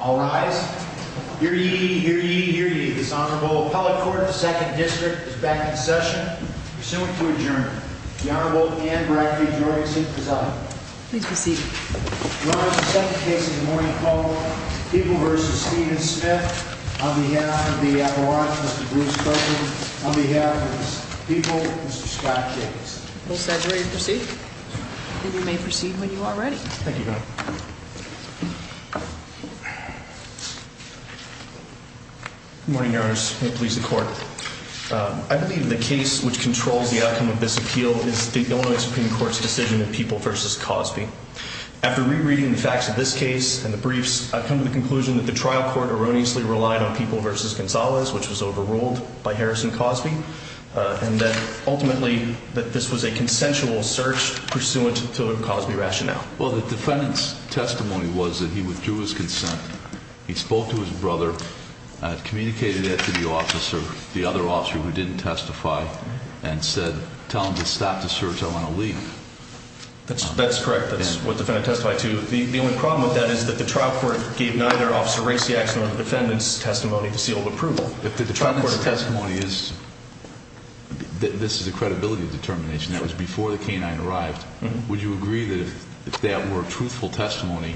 All rise. Hear ye, hear ye, hear ye. This honorable appellate court, the second district is back in session. Pursuant to adjourn, the Honorable Anne Brackley. Please proceed. People versus Stephen Smith on the head of the on behalf of people, Mr Scott Jacobs will saturate. Proceed. You may proceed when you are ready. Thank you. Mhm. Morning hours. Please, the court. I believe the case which controls the outcome of this appeal is the Illinois Supreme Court's decision of people versus Cosby. After rereading the facts of this case and the briefs, I've come to the conclusion that the trial court erroneously relied on people versus Gonzalez, which was overruled by Harrison Cosby on that. Ultimately, that this was a consensual search pursuant to Cosby rationale. Well, the defendant's testimony was that he withdrew his consent. He spoke to his brother, communicated that to the officer, the other officer who didn't testify and said, tell him to stop the search. I want to leave. That's correct. That's what the defendant testified to. The only problem with that is that the trial court gave neither officer race the action of the defendant's testimony to seal approval. If the trial court testimony is this is the credibility of determination that was before the truthful testimony.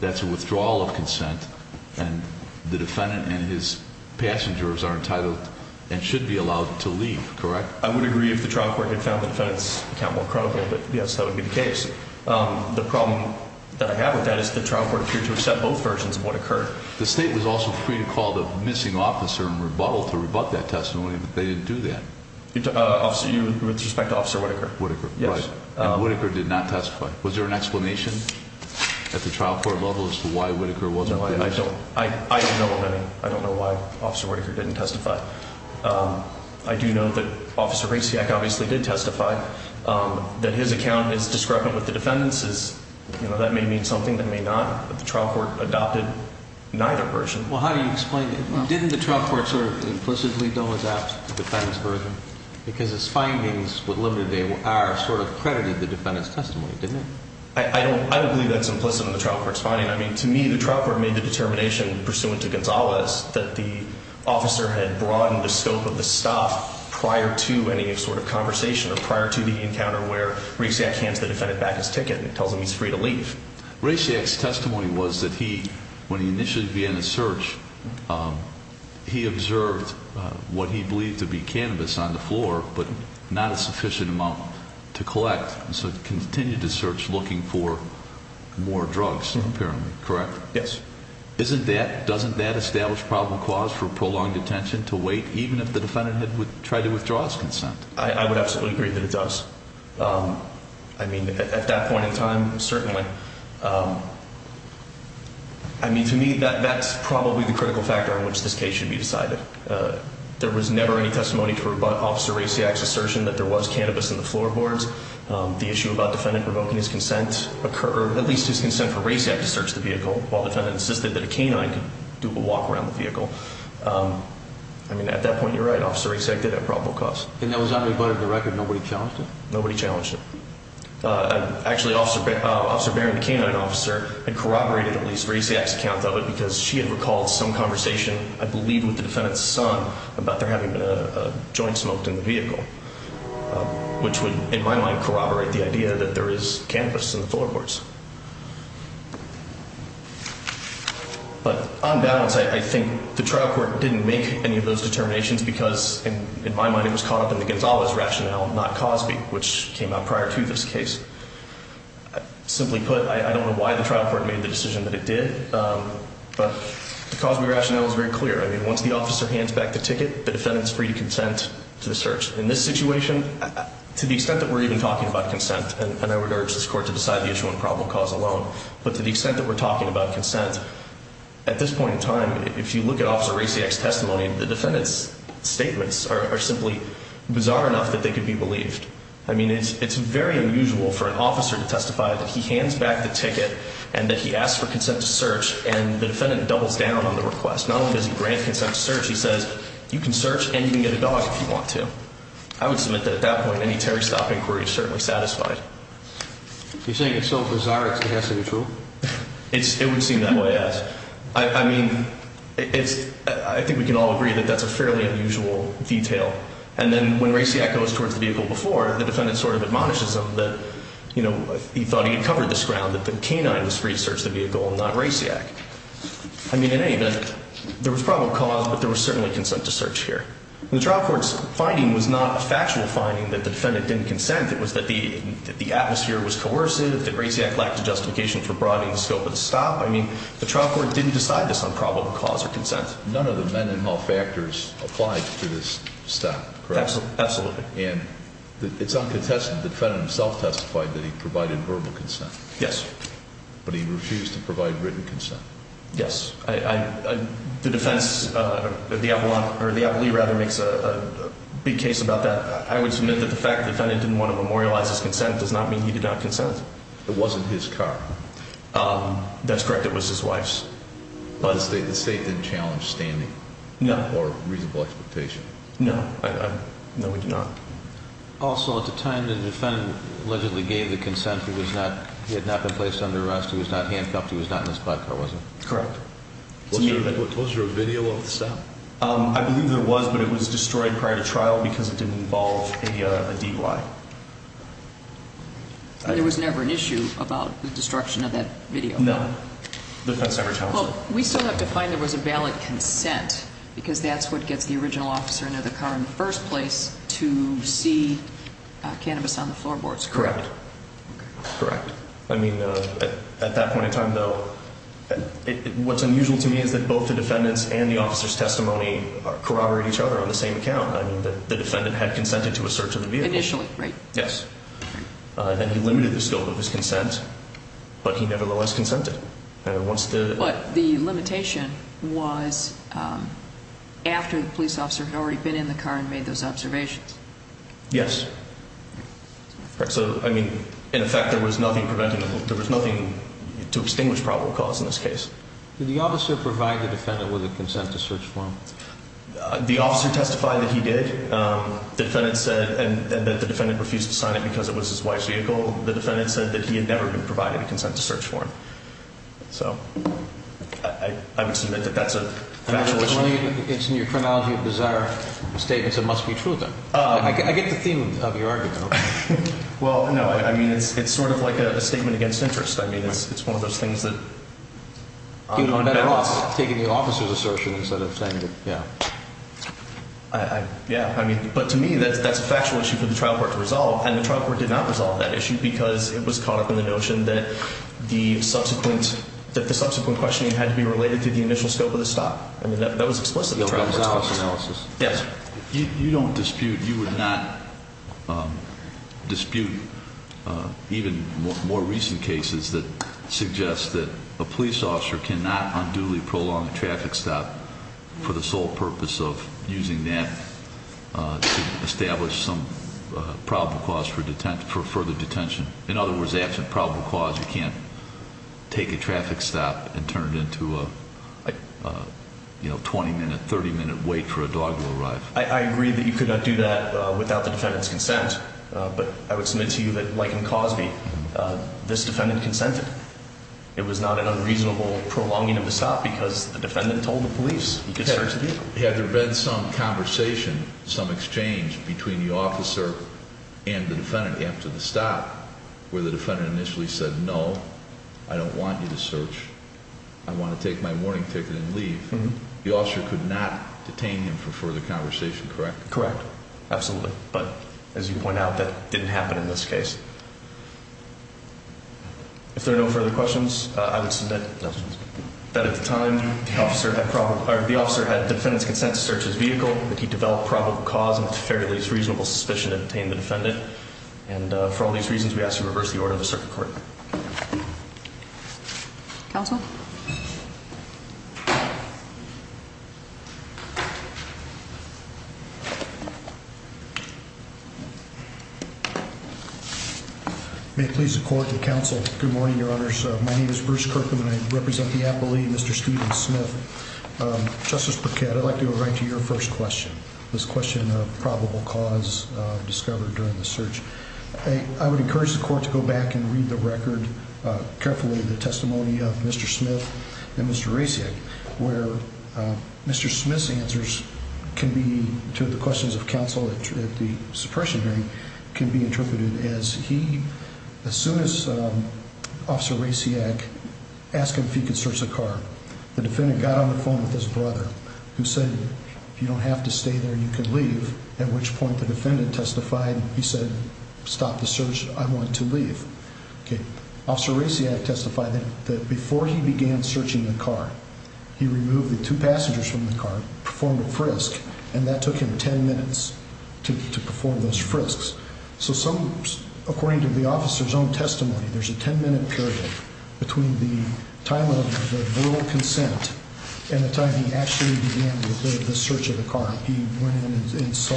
That's a withdrawal of consent. And the defendant and his passengers are entitled and should be allowed to leave. Correct. I would agree if the trial court had found the defense account more critical. But yes, that would be the case. The problem that I have with that is the trial court appeared to accept both versions of what occurred. The state was also free to call the missing officer and rebuttal to rebut that testimony. But they didn't do that. Officer, you with respect to Officer Whitaker, Whitaker. Yes, Whitaker did not testify. Was there an explanation at the trial court levels for why Whitaker wasn't? I don't I don't know of any. I don't know why Officer Raker didn't testify. Um, I do know that Officer Raciak obviously did testify, um, that his account is discrepant with the defendants is, you know, that may mean something that may not. But the trial court adopted neither version. Well, how do you explain it? Didn't the trial court sort of implicitly don't adapt the defense version because his findings with limited day are sort of credited the defendant's testimony? I don't I don't believe that's implicit in the trial for expanding. I mean, to me, the trial court made the determination pursuant to Gonzalez that the officer had broadened the scope of the stuff prior to any sort of conversation or prior to the encounter where reset hands the defendant back his ticket and tells him he's free to leave. Raciak's testimony was that he when he initially began the search, um, he observed what he believed to be cannabis on the floor, but not a sufficient amount to collect and so continue to search, looking for more drugs. Apparently correct. Yes. Isn't that doesn't that establish problem cause for prolonged detention to wait even if the defendant would try to withdraw his consent? I would absolutely agree that it does. Um, I mean, at that point in time, certainly, um, I mean, to me, that that's probably the critical factor in which this case should be decided. Uh, there was never any testimony to rebut Officer Raciak's the issue about defendant provoking his consent occur, at least his consent for Raciak to search the vehicle while the defendant insisted that a canine could do a walk around the vehicle. Um, I mean, at that point, you're right, Officer Raciak did have probable cause. And that was on the record. Nobody challenged it. Nobody challenged it. Uh, actually, Officer Officer Barron canine officer and corroborated at least Raciak's account of it because she had recalled some conversation, I believe, with the defendant's son about their having a joint smoked in the vehicle, which would, in my mind, corroborate the idea that there is cannabis in the floorboards. But on balance, I think the trial court didn't make any of those determinations because, in my mind, it was caught up in the Gonzalez rationale, not Cosby, which came out prior to this case. Simply put, I don't know why the trial court made the decision that it did. But because we rationale is very clear. I mean, once the officer hands back the ticket, the defendant's free to consent to the search. In this situation, to the extent that we're even talking about consent, and I would urge this court to decide the issue and probable cause alone. But to the extent that we're talking about consent at this point in time, if you look at Officer Raciak's testimony, the defendant's statements are simply bizarre enough that they could be believed. I mean, it's very unusual for an officer to testify that he hands back the ticket and that he asked for consent to search, and the defendant doubles down on the request. Not only does he grant consent to search, he says, you can search and you can get a dog if you want to. I would submit that at that point, any Terry Stopp inquiry is certainly satisfied. He's saying it's so bizarre it has to be true. It would seem that way as I mean, I think we can all agree that that's a fairly unusual detail. And then, when Raciak goes towards the vehicle before, the defendant sort of admonishes him that, you know, he thought he had covered this ground, that the canine was free to search the vehicle and not Raciak. I mean, in any there was probable cause, but there was certainly consent to search here. The trial court's finding was not a factual finding that the defendant didn't consent. It was that the atmosphere was coercive, that Raciak lacked a justification for broadening the scope of the stop. I mean, the trial court didn't decide this on probable cause or consent. None of the men in all factors applied to this step, correct? Absolutely. And it's uncontested. The defendant himself testified that he provided verbal consent. Yes, but he refused to provide written consent. Yes, the defense, uh, the Avalon or the Avali rather makes a big case about that. I would submit that the fact the defendant didn't want to memorialize his consent does not mean he did not consent. It wasn't his car. Um, that's correct. It was his wife's. But the state didn't challenge standing or reasonable expectation. No, no, we do not. Also, at the time, the defendant allegedly gave the consent. He was not. He had not been placed under arrest. He was not handcuffed. He was not in his car, wasn't correct. What was your video of the stop? I believe there was, but it was destroyed prior to trial because it didn't involve a D. Y. There was never an issue about the destruction of that video. No defense ever tell. We still have to find there was a valid consent because that's what gets the original officer into the car in the first place to see cannabis floorboards. Correct. Correct. I mean, at that point in time, though, what's unusual to me is that both the defendant's and the officer's testimony corroborate each other on the same account. I mean, the defendant had consented to a search of the vehicle initially, right? Yes. And he limited the scope of his consent, but he nevertheless consented once the limitation was, um, after the police officer had already been in the car and those observations. Yes. Correct. So, I mean, in effect, there was nothing preventable. There was nothing to extinguish probable cause. In this case, the officer provide the defendant with a consent to search for him. The officer testified that he did. Um, the defendant said that the defendant refused to sign it because it was his wife's vehicle. The defendant said that he had never been provided a consent to search for him. So I would submit that that's a it's in your analogy of bizarre statements that must be true of them. I get the theme of your argument. Well, no, I mean, it's sort of like a statement against interest. I mean, it's one of those things that you know, better off taking the officer's assertion instead of saying that. Yeah, I Yeah, I mean, but to me, that's that's a factual issue for the trial court to resolve. And the trial court did not resolve that issue because it was caught up in the notion that the subsequent that the subsequent questioning had to be related to the initial scope of the stop. I mean, that was explicitly analysis. Yes, you don't dispute. You would not dispute even more recent cases that suggest that a police officer cannot unduly prolong the traffic stop for the sole purpose of using that establish some probable cause for detention for further detention. In other words, absent probable cause, you can't take a traffic stop and turn it to, uh, you know, 20 minute, 30 minute wait for a dog to arrive. I agree that you could not do that without the defendant's consent. But I would submit to you that, like in Cosby, this defendant consented. It was not an unreasonable prolonging of the stop because the defendant told the police had there been some conversation, some exchange between the officer and the defendant after the stop where the defendant initially said, No, I don't want you to search. I want to take my warning ticket and leave. The officer could not detain him for further conversation. Correct? Correct. Absolutely. But as you point out, that didn't happen in this case. If there are no further questions, I would submit that at the time the officer had problem. The officer had defendant's consent to search his vehicle. He developed probable cause and fairly reasonable suspicion to detain the defendant. And for all these reasons, we ask you reverse the order of the circuit court. Council. May please support the council. Good morning, Your Honor's. My name is Bruce Kirkman. I represent the appellee, Mr Steven Smith. Justice Burkett, I'd like to write to your first question. This question of probable cause discovered during the search. I would encourage the court to go back and testimony of Mr Smith and Mr Racing where Mr Smith's answers can be to the questions of counsel at the suppression hearing can be interpreted as he, as soon as Officer Raciak asking if he could search the car, the defendant got on the phone with his brother who said, You don't have to stay there. You could leave. At which point, the defendant testified. He said, Stop the search. I that before he began searching the car, he removed the two passengers from the car, performed a frisk and that took him 10 minutes to perform those frisks. So some, according to the officer's own testimony, there's a 10 minute period between the time of the little consent and the time he actually began the search of the car. He went in and saw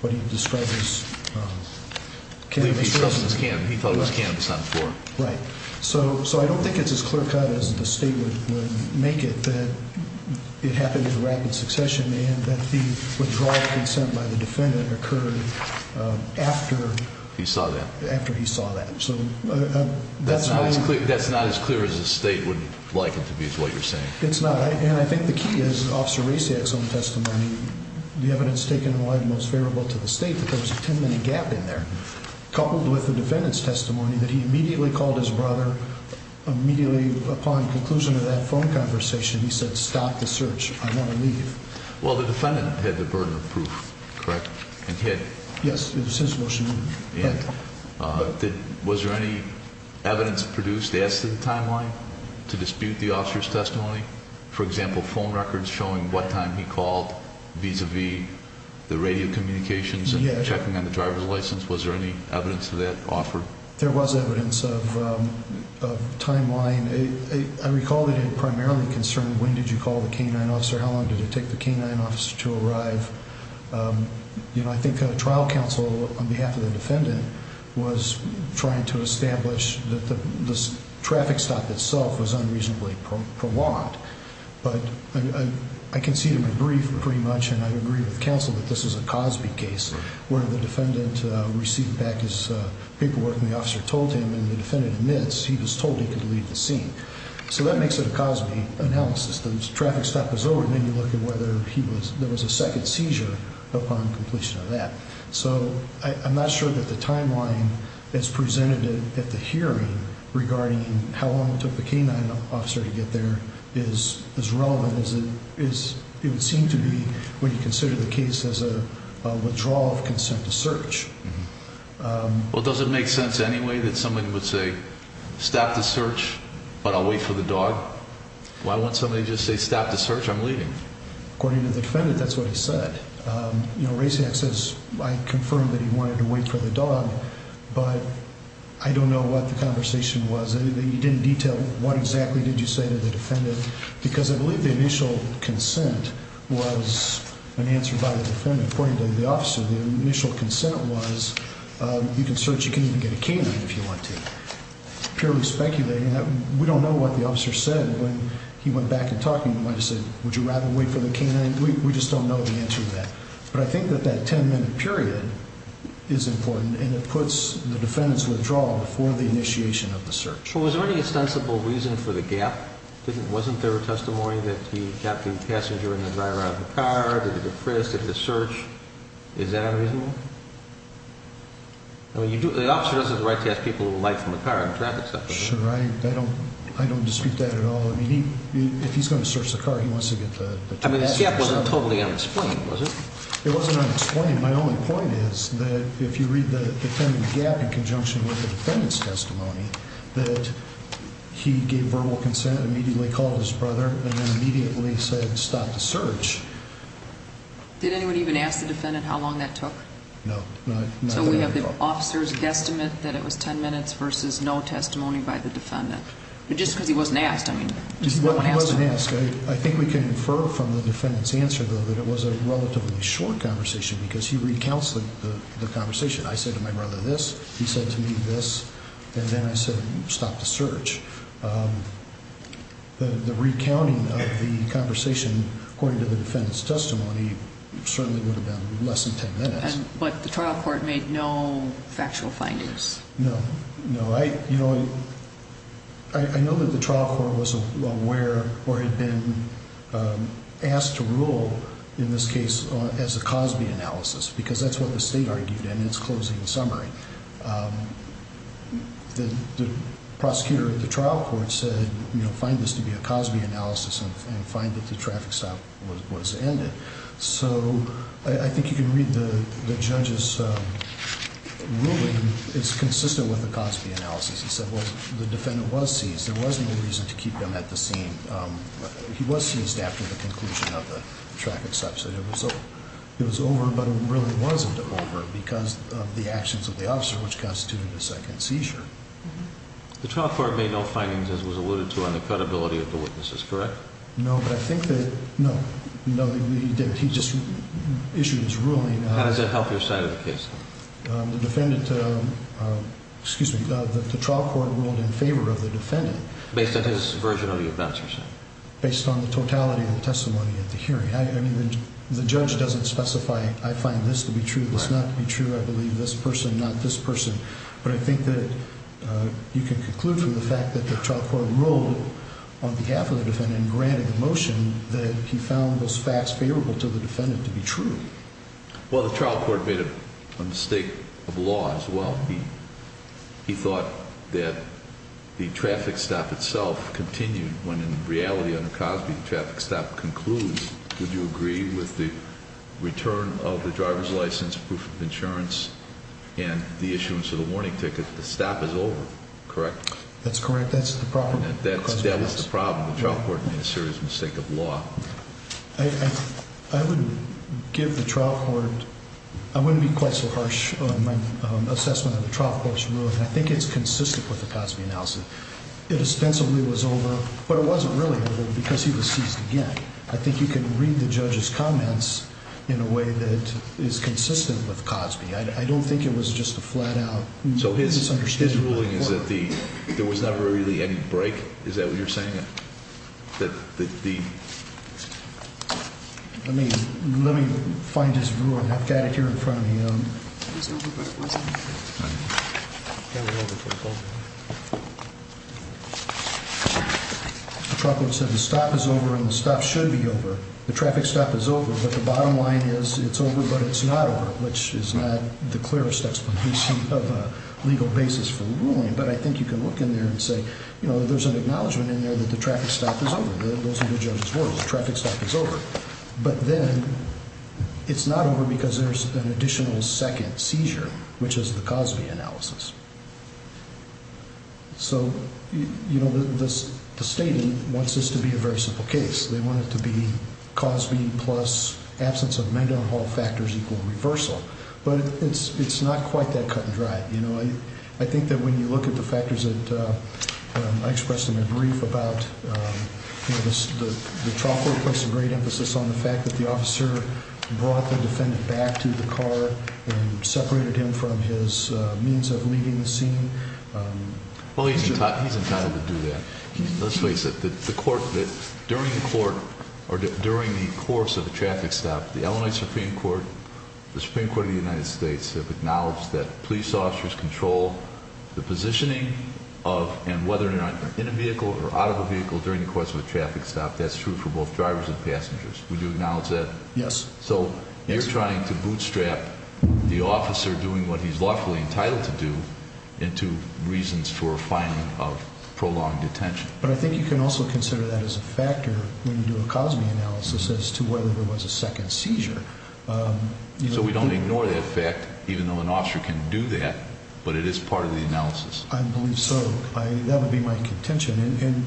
what he describes. It's him. He thought it was campus on the floor, right? So? So I don't think it's as clear cut as the state would make it that it happened in rapid succession and that the withdrawal of consent by the defendant occurred after he saw that after he saw that. So that's not as clear. That's not as clear as the state would like it to be. It's what you're saying. It's not. And I think the key is Officer Raciak's own testimony. The evidence taken in the most favorable to the state. But there was a 10 minute gap in there, coupled with the defendant's testimony that he immediately called his brother immediately. Upon conclusion of that phone conversation, he said, Stop the search. I never leave. Well, the defendant had the burden of proof, correct? And he had. Yes, it was his motion. But was there any evidence produced as to the timeline to dispute the officer's testimony? For example, phone records showing what time he called vis a vis the radio communications and checking on the driver's license. Was there any evidence of that offer? There was evidence of of timeline. I recall that it primarily concerned. When did you call the canine officer? How long did it take the canine officer to arrive? Um, you know, I think a trial counsel on behalf of the defendant was trying to establish that the traffic stop itself was unreasonably prolonged. But I can see the brief pretty much. And I agree with counsel that this is a Cosby case where the defendant received back his paperwork and the officer told him and the defendant admits he was told he could leave the scene. So that makes it a Cosby analysis. Those traffic stop is over. Then you look at whether he was there was a second seizure upon completion of that. So I'm not sure that the timeline is presented at the hearing regarding how long it took the canine officer to get there is as relevant as it is. It would seem to be when you consider the case as a withdrawal of consent to search. Well, it doesn't make sense anyway that somebody would say stop the search, but I'll wait for the dog. Why won't somebody just say stop the search? I'm leaving. According to the defendant, that's what he said. Um, you know, racing access. I confirmed that he don't know what the conversation was. You didn't detail what exactly did you say to the defendant? Because I believe the initial consent was an answer by the defendant. According to the officer, the initial consent was you can search. You can even get a canine if you want to purely speculating that we don't know what the officer said when he went back and talking. You might have said, Would you rather wait for the canine? We just don't know the answer to that. But I think that that 10 minute period is important, and it for the initiation of the search. Was there any ostensible reason for the gap? Wasn't there a testimony that he kept the passenger in the driver of the car depressed at the search? Is that unreasonable? Well, you do. The officer doesn't have the right to ask people who like from the car and traffic stuff, right? I don't I don't dispute that at all. If he's going to search the car, he wants to get the gap wasn't totally unexplained, was it? It wasn't unexplained. My only point is that if you read the gap in conjunction with the defendant's testimony that he gave verbal consent immediately called his brother and immediately said, Stop the search. Did anyone even ask the defendant how long that took? No, no. So we have the officer's guesstimate that it was 10 minutes versus no testimony by the defendant. But just because he wasn't asked. I mean, I think we can infer from the defendant's answer, though, that it was a relatively short conversation because he recounts the conversation. I said to my brother this, he said to me this. And then I said, Stop the search. The recounting of the conversation, according to the defendant's testimony, certainly would have been less than 10 minutes. But the trial court made no factual findings. No, no. I, you know, I know that the trial court was aware or had been asked to rule in this case as a Cosby analysis, because that's what the state argued in its closing summary. The prosecutor of the trial court said, you know, find this to be a Cosby analysis and find that the traffic stop was ended. So I think you can read the judge's ruling. It's consistent with the Cosby analysis. He said, Well, the defendant was seized. There wasn't a reason to keep them at the scene. He was seized after the conclusion of the traffic subsidy. So it was over. But it really wasn't over because of the actions of the officer, which constituted a second seizure. The trial court made no findings, as was alluded to, on the credibility of the witnesses. Correct? No, but I think that no, no, he didn't. He just issued his ruling. How does it help your side of the case? The defendant? Excuse me. The trial court ruled in favor of the defendant based on his testimony at the hearing. I mean, the judge doesn't specify. I find this to be true. It's not true. I believe this person, not this person. But I think that you can conclude from the fact that the trial court ruled on behalf of the defendant granted the motion that he found those facts favorable to the defendant to be true. Well, the trial court made a mistake of law as well. He thought that the traffic stop itself continued when, in reality, under Cosby, the traffic stop concludes. Would you agree with the return of the driver's license, proof of insurance and the issuance of the warning ticket? The stop is over, correct? That's correct. That's the problem. That was the problem. The trial court made a serious mistake of law. I wouldn't give the trial court. I wouldn't be quite so harsh on my assessment of the trial court's ruling. I think it's consistent with the Cosby analysis. It sensibly was over, but it wasn't really because he was seized again. I think you can read the judge's comments in a way that is consistent with Cosby. I don't think it was just a flat out. So his understanding ruling is that the there was never really any break. Is that what you're saying? That the I mean, let me find his room. I've got it here in front of me. The trouble is that the stop is over and the stuff should be over. The traffic stop is over, but the bottom line is it's over, but it's not over, which is not the clearest explanation of a legal basis for ruling. But I think you can look in there and say, you know, there's an acknowledgement in there that the traffic stop is over. Those of the judges were traffic stop is over, but then it's not over because there's an additional second seizure, which is the Cosby analysis. So, you know, the state wants this to be a very simple case. They want it to be Cosby plus absence of mental hall factors equal reversal. But it's not quite that cut and dry. You know, I think that when you look at the factors that I expressed in my brief about, um, you know, the truck was a great emphasis on the fact that the officer brought the defendant back to the car and separated him from his means of leaving the scene. Well, he's he's entitled to do that. Let's face it. The court that during the court or during the course of the traffic stop, the Illinois Supreme Court, the Supreme Court of the United States have acknowledged that police officers control the positioning of and whether or not in a vehicle or out of a vehicle during the course of a traffic stop. That's true for both drivers and passengers. Would you acknowledge that? Yes. So you're trying to bootstrap the officer doing what he's lawfully entitled to do into reasons for finding of prolonged attention. But I think you can also consider that as a factor when you do a Cosby analysis as to whether there was a second seizure. Um, so we don't ignore that fact, even though an officer can do that, but it is part of the analysis. I believe so. That would be my contention.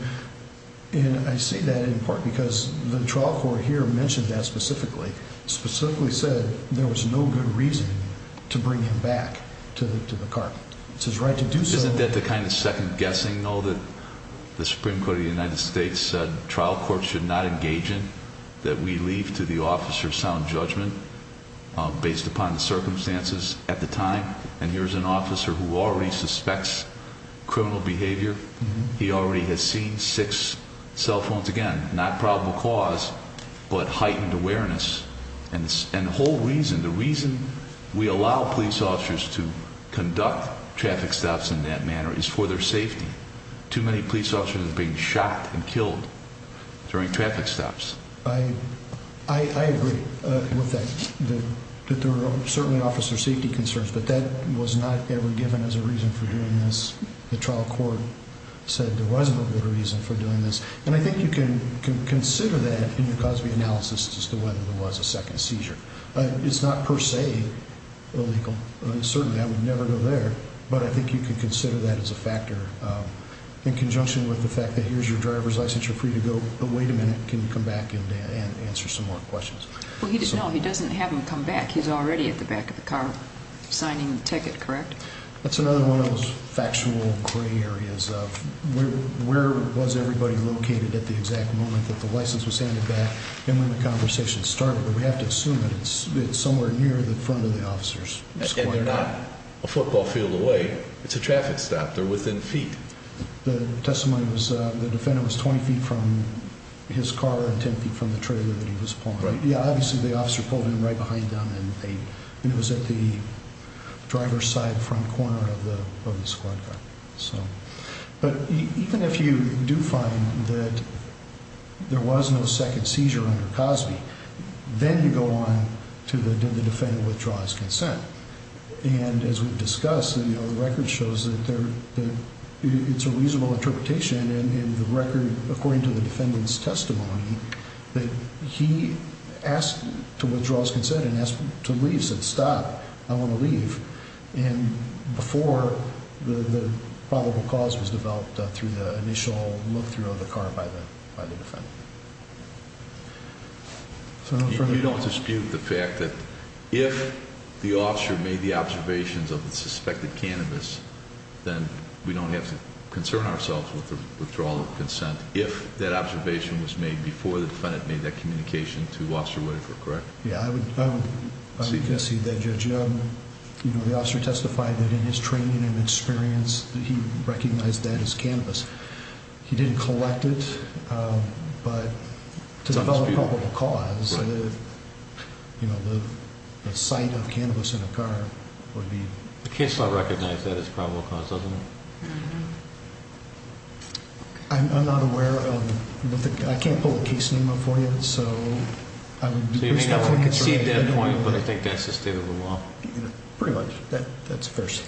And I see that in part because the trial court here mentioned that specifically specifically said there was no good reason to bring him back to the car. It's his right to do so. Isn't that the kind of second guessing know that the Supreme Court of the United States said trial court should not engage in that we leave to the officer's sound judgment based upon the circumstances at the time. And here's an officer who already suspects criminal behavior. He already has seen six cell phones again, not probable cause, but heightened awareness. And the whole reason the reason we allow police officers to conduct traffic stops in that manner is for their safety. Too many police officers being shot and killed during traffic stops. I agree with that, that there are certainly officer safety concerns, but that was not ever given as a reason for doing this. The trial court said there wasn't a good reason for doing this. And I think you can consider that in your cause. The analysis is the one that was a second seizure. It's not per se illegal. Certainly I would never go there, but I think you could consider that as a factor in conjunction with the fact that here's your driver's license. You're free to go. Wait a minute. Can you come back and answer some more questions? Well, he does. No, he doesn't have him come back. He's already at the back of the car signing ticket. Correct. That's another one of those factual gray areas of where was everybody located at the exact moment that the license was handed back. And when the conversation started, we have to assume that it's somewhere near the front of the officers. They're not a football field away. It's a traffic stop there within feet. The testimony was the defendant was 20 ft from his car and 10 ft from the trailer that he was pulling. Yeah, obviously the driver's side front corner of the squad car. So, but even if you do find that there was no second seizure under Cosby, then you go on to the defendant withdraws consent. And as we've discussed, the record shows that it's a reasonable interpretation in the record, according to the defendant's stop. I want to leave. And before the probable cause was developed through the initial look through the car by the by the defendant. So you don't dispute the fact that if the officer made the observations of the suspected cannabis, then we don't have to concern ourselves with the withdrawal of consent. If that observation was made before the defendant made that communication to wash your way for correct. Yeah, I guess he did. You know, the officer testified that in his training and experience that he recognized that his canvas, he didn't collect it. But to develop probable cause, you know, the site of cannabis in a car would be the case. I recognize that it's probable cause, doesn't it? I'm not aware of. I can't pull the case name up for you. So I would see that point. But I think that's just a little off pretty much. That's first.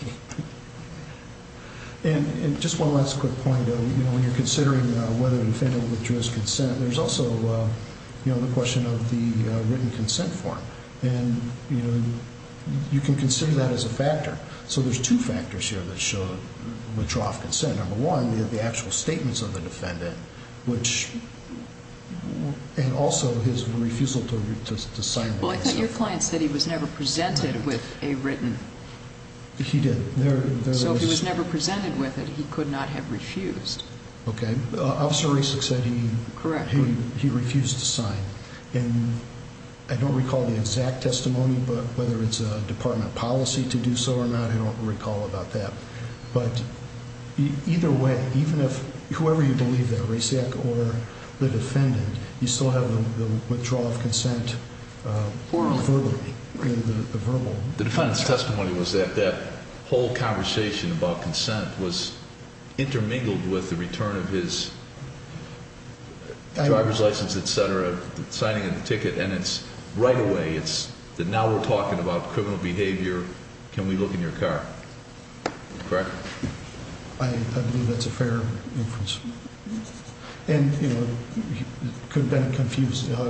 And just one last quick point. You know, when you're considering whether defendant withdrew his consent, there's also, you know, the question of the written consent form. And, you know, you can consider that as a factor. So there's two factors here that showed withdraw consent. Number one, the actual statements of the defendant, which well, and also his refusal to sign. Well, I think your client said he was never presented with a written. He did. So he was never presented with it. He could not have refused. Okay. Officer recent said he correct. He refused to sign. And I don't recall the exact testimony, but whether it's a department policy to do so or not, I don't recall about that. But either way, even if whoever you believe that race or the defendant, you still have the withdrawal of consent or verbally verbal. The defendant's testimony was that that whole conversation about consent was intermingled with the return of his driver's license, etcetera, signing of the ticket. And it's right away. It's that now we're talking about criminal behavior. Can we look in your car? Correct. I believe that's a fair inference. And, you know, could have been confused. You know,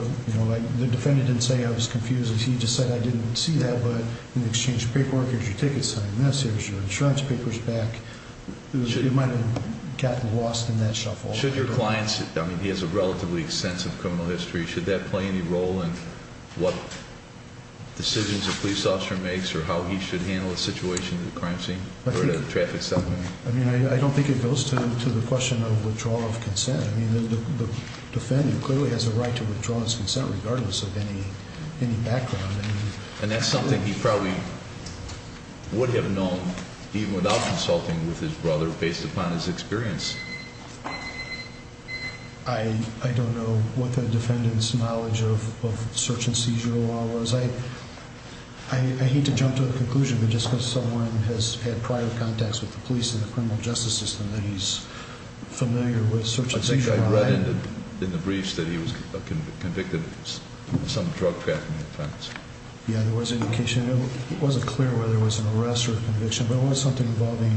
the defendant didn't say I was confused. He just said I didn't see that. But in exchange paperwork, here's your ticket sign. This is your insurance papers back. It might have gotten lost in that shuffle. Should your clients? I mean, he has a relatively extensive criminal history. Should that play any role in what decisions the police officer makes or how he should handle the situation? The crime scene traffic something. I mean, I don't think it goes to the question of withdrawal of consent. I mean, the defendant clearly has a right to withdraw his consent, regardless of any any background. And that's something he probably would have known, even without consulting with his brother, based upon his experience. I don't know what the defendant's knowledge of search and seizure while as I I hate to jump to a conclusion, but just because someone has had prior contacts with the police in the criminal justice system that he's familiar with search and seizure. I read in the briefs that he was convicted of some drug trafficking offense. Yeah, there was indication. It wasn't clear whether it was an arrest or conviction, but it was something involving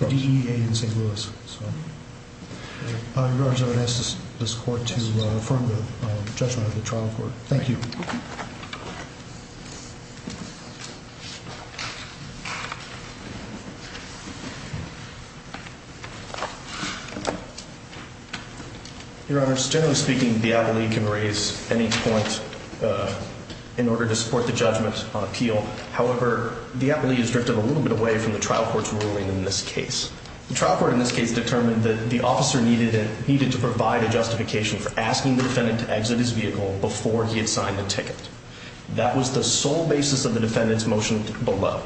the E. A. In St Louis. I would ask this court to affirm the judgment of the trial court. Thank you. Thank you. Your honor, generally speaking, the appellee can raise any point, uh, in order to support the judgment on appeal. However, the appellee is drifted a little bit away from the trial court's ruling. In this case, the trial court, in this case, determined that the officer needed it needed to provide a justification for asking the defendant to exit his vehicle before he had the ticket. That was the sole basis of the defendant's motion below.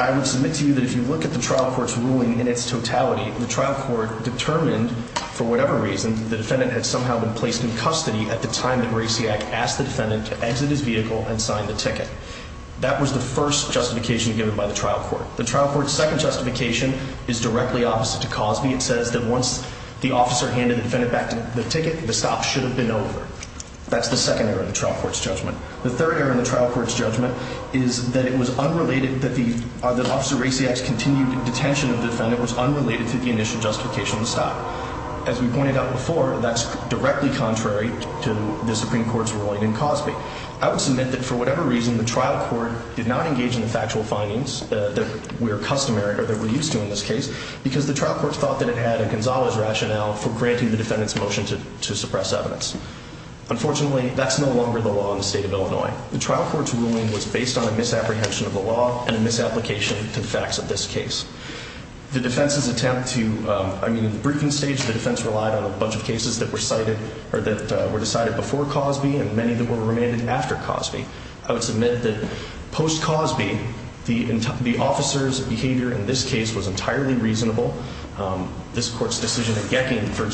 I would submit to you that if you look at the trial court's ruling in its totality, the trial court determined for whatever reason, the defendant had somehow been placed in custody at the time that Raciak asked the defendant to exit his vehicle and signed the ticket. That was the first justification given by the trial court. The trial court's second justification is directly opposite to cause me. It says that once the officer handed the defendant back the ticket, the stop should have been over. That's the second error in the trial court's judgment. The third error in the trial court's judgment is that it was unrelated that the officer Raciak's continued detention of defendant was unrelated to the initial justification to stop. As we pointed out before, that's directly contrary to the Supreme Court's ruling in Cosby. I would submit that for whatever reason, the trial court did not engage in the factual findings that we're customary that we're used to in this case because the trial court thought that it had a Gonzalez rationale for granting the suppress evidence. Unfortunately, that's no longer the law in the state of Illinois. The trial court's ruling was based on a misapprehension of the law and a misapplication to the facts of this case. The defense's attempt to I mean, in the briefing stage, the defense relied on a bunch of cases that were cited or that were decided before Cosby and many that were remanded after Cosby. I would submit that post Cosby, the the officer's behavior in this case was entirely reasonable. Um, this court's decision that getting, for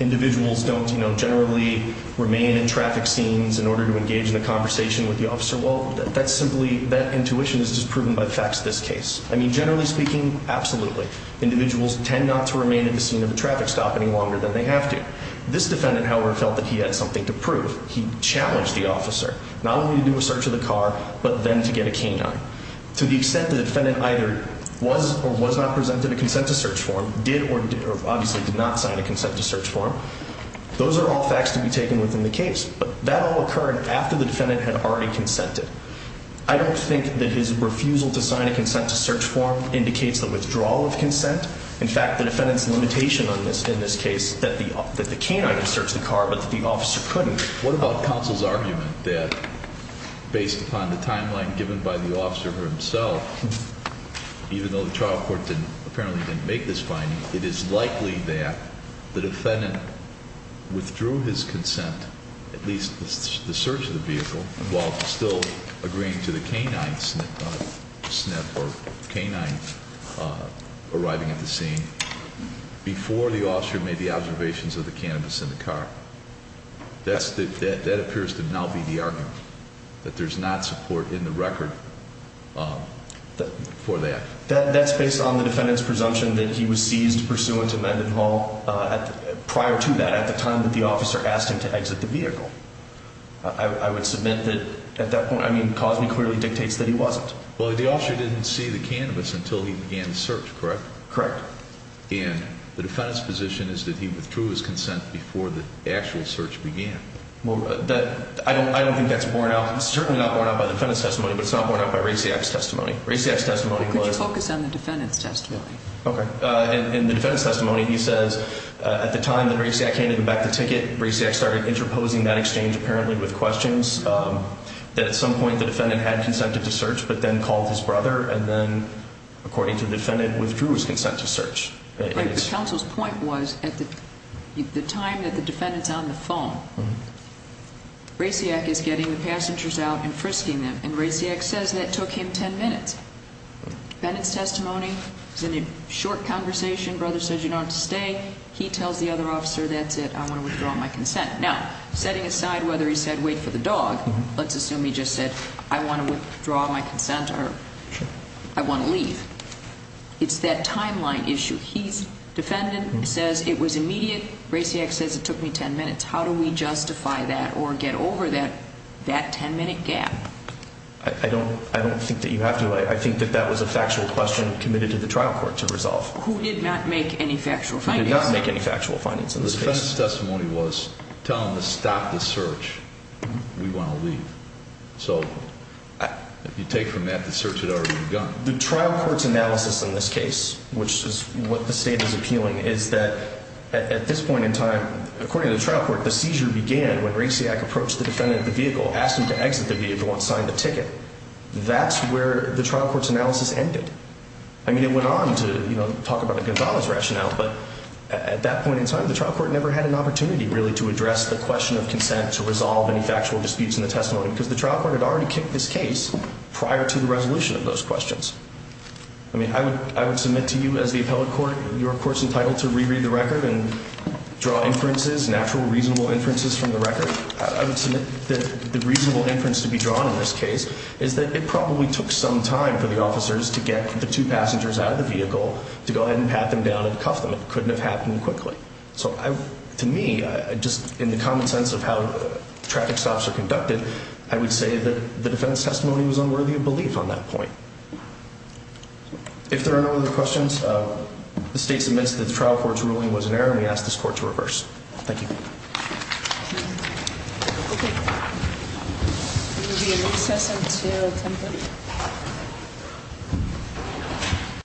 individuals don't, you know, generally remain in traffic scenes in order to engage in a conversation with the officer. Well, that's simply that intuition is just proven by the facts of this case. I mean, generally speaking, absolutely. Individuals tend not to remain in the scene of the traffic stop any longer than they have to. This defendant, however, felt that he had something to prove. He challenged the officer not only to do a search of the car, but then to get a canine to the extent the defendant either was or was not presented a consent to search form, did or obviously did not sign a consent to search form. Those are all facts to be taken within the case. But that all occurred after the defendant had already consented. I don't think that his refusal to sign a consent to search form indicates the withdrawal of consent. In fact, the defendant's limitation on this in this case that the that the canine has searched the car, but the officer couldn't. What about counsel's argument that based upon the timeline given by the officer himself, even though the trial court didn't apparently didn't make this it is likely that the defendant withdrew his consent, at least the search of the vehicle, while still agreeing to the canine snip or canine arriving at the scene before the officer made the observations of the cannabis in the car. That's that that appears to now be the argument that there's not support in the record for that. That's based on the defendant's presumption that he was seized pursuant to Mendenhall prior to that, at the time that the officer asked him to exit the vehicle. I would submit that at that point, I mean, causing clearly dictates that he wasn't. Well, the officer didn't see the cannabis until he began the search, correct? Correct. And the defendant's position is that he withdrew his consent before the actual search began. Well, that I don't I don't think that's borne out. It's certainly not borne out by the defendant's testimony, but it's not borne out by race. The X testimony could focus on the defendant's testimony. Okay. In the defense testimony, he says at the time that race, I can't even back the ticket reset, started interposing that exchange apparently with questions that at some point the defendant had consented to search, but then called his brother. And then, according to the defendant, withdrew his consent to search. The council's point was at the time that the defendants on the phone Raciak is getting the passengers out and frisking them. And Raciak says that took him 10 minutes. Then it's testimony is in a short conversation. Brother says you don't stay. He tells the other officer. That's it. I want to withdraw my consent now, setting aside whether he said, Wait for the dog. Let's assume he just said, I want to withdraw my consent or I want to leave. It's that timeline issue. He's defendant says it was immediate. Raciak says it took me 10 minutes. How do we justify that or get over that? That 10 minute gap? I don't. I don't think that you have to. I think that that was a factual question committed to the trial court to resolve who did not make any factual. I did not make any factual findings in this case. Testimony was telling to stop the search. We want to leave. So if you take from that, the search had already begun. The trial court's analysis in this case, which is what the state is appealing, is that at this point in time, according to the trial court, the seizure began when Raciak approached the defendant, the vehicle and signed the ticket. That's where the trial court's analysis ended. I mean, it went on to talk about Gonzalez rationale, but at that point in time, the trial court never had an opportunity really to address the question of consent to resolve any factual disputes in the testimony because the trial court had already kicked this case prior to the resolution of those questions. I mean, I would I would submit to you as the appellate court. You're, of course, entitled to reread the record and draw inferences, natural, reasonable inferences from the record. I would the reasonable inference to be drawn in this case is that it probably took some time for the officers to get the two passengers out of the vehicle to go ahead and pat them down and cuff them. It couldn't have happened quickly. So to me, just in the common sense of how traffic stops are conducted, I would say that the defense testimony was unworthy of belief on that point. If there are no other questions, the state submits that the trial court's ruling was an error. We asked this court to reverse. Thank you. It will be a recess until 10.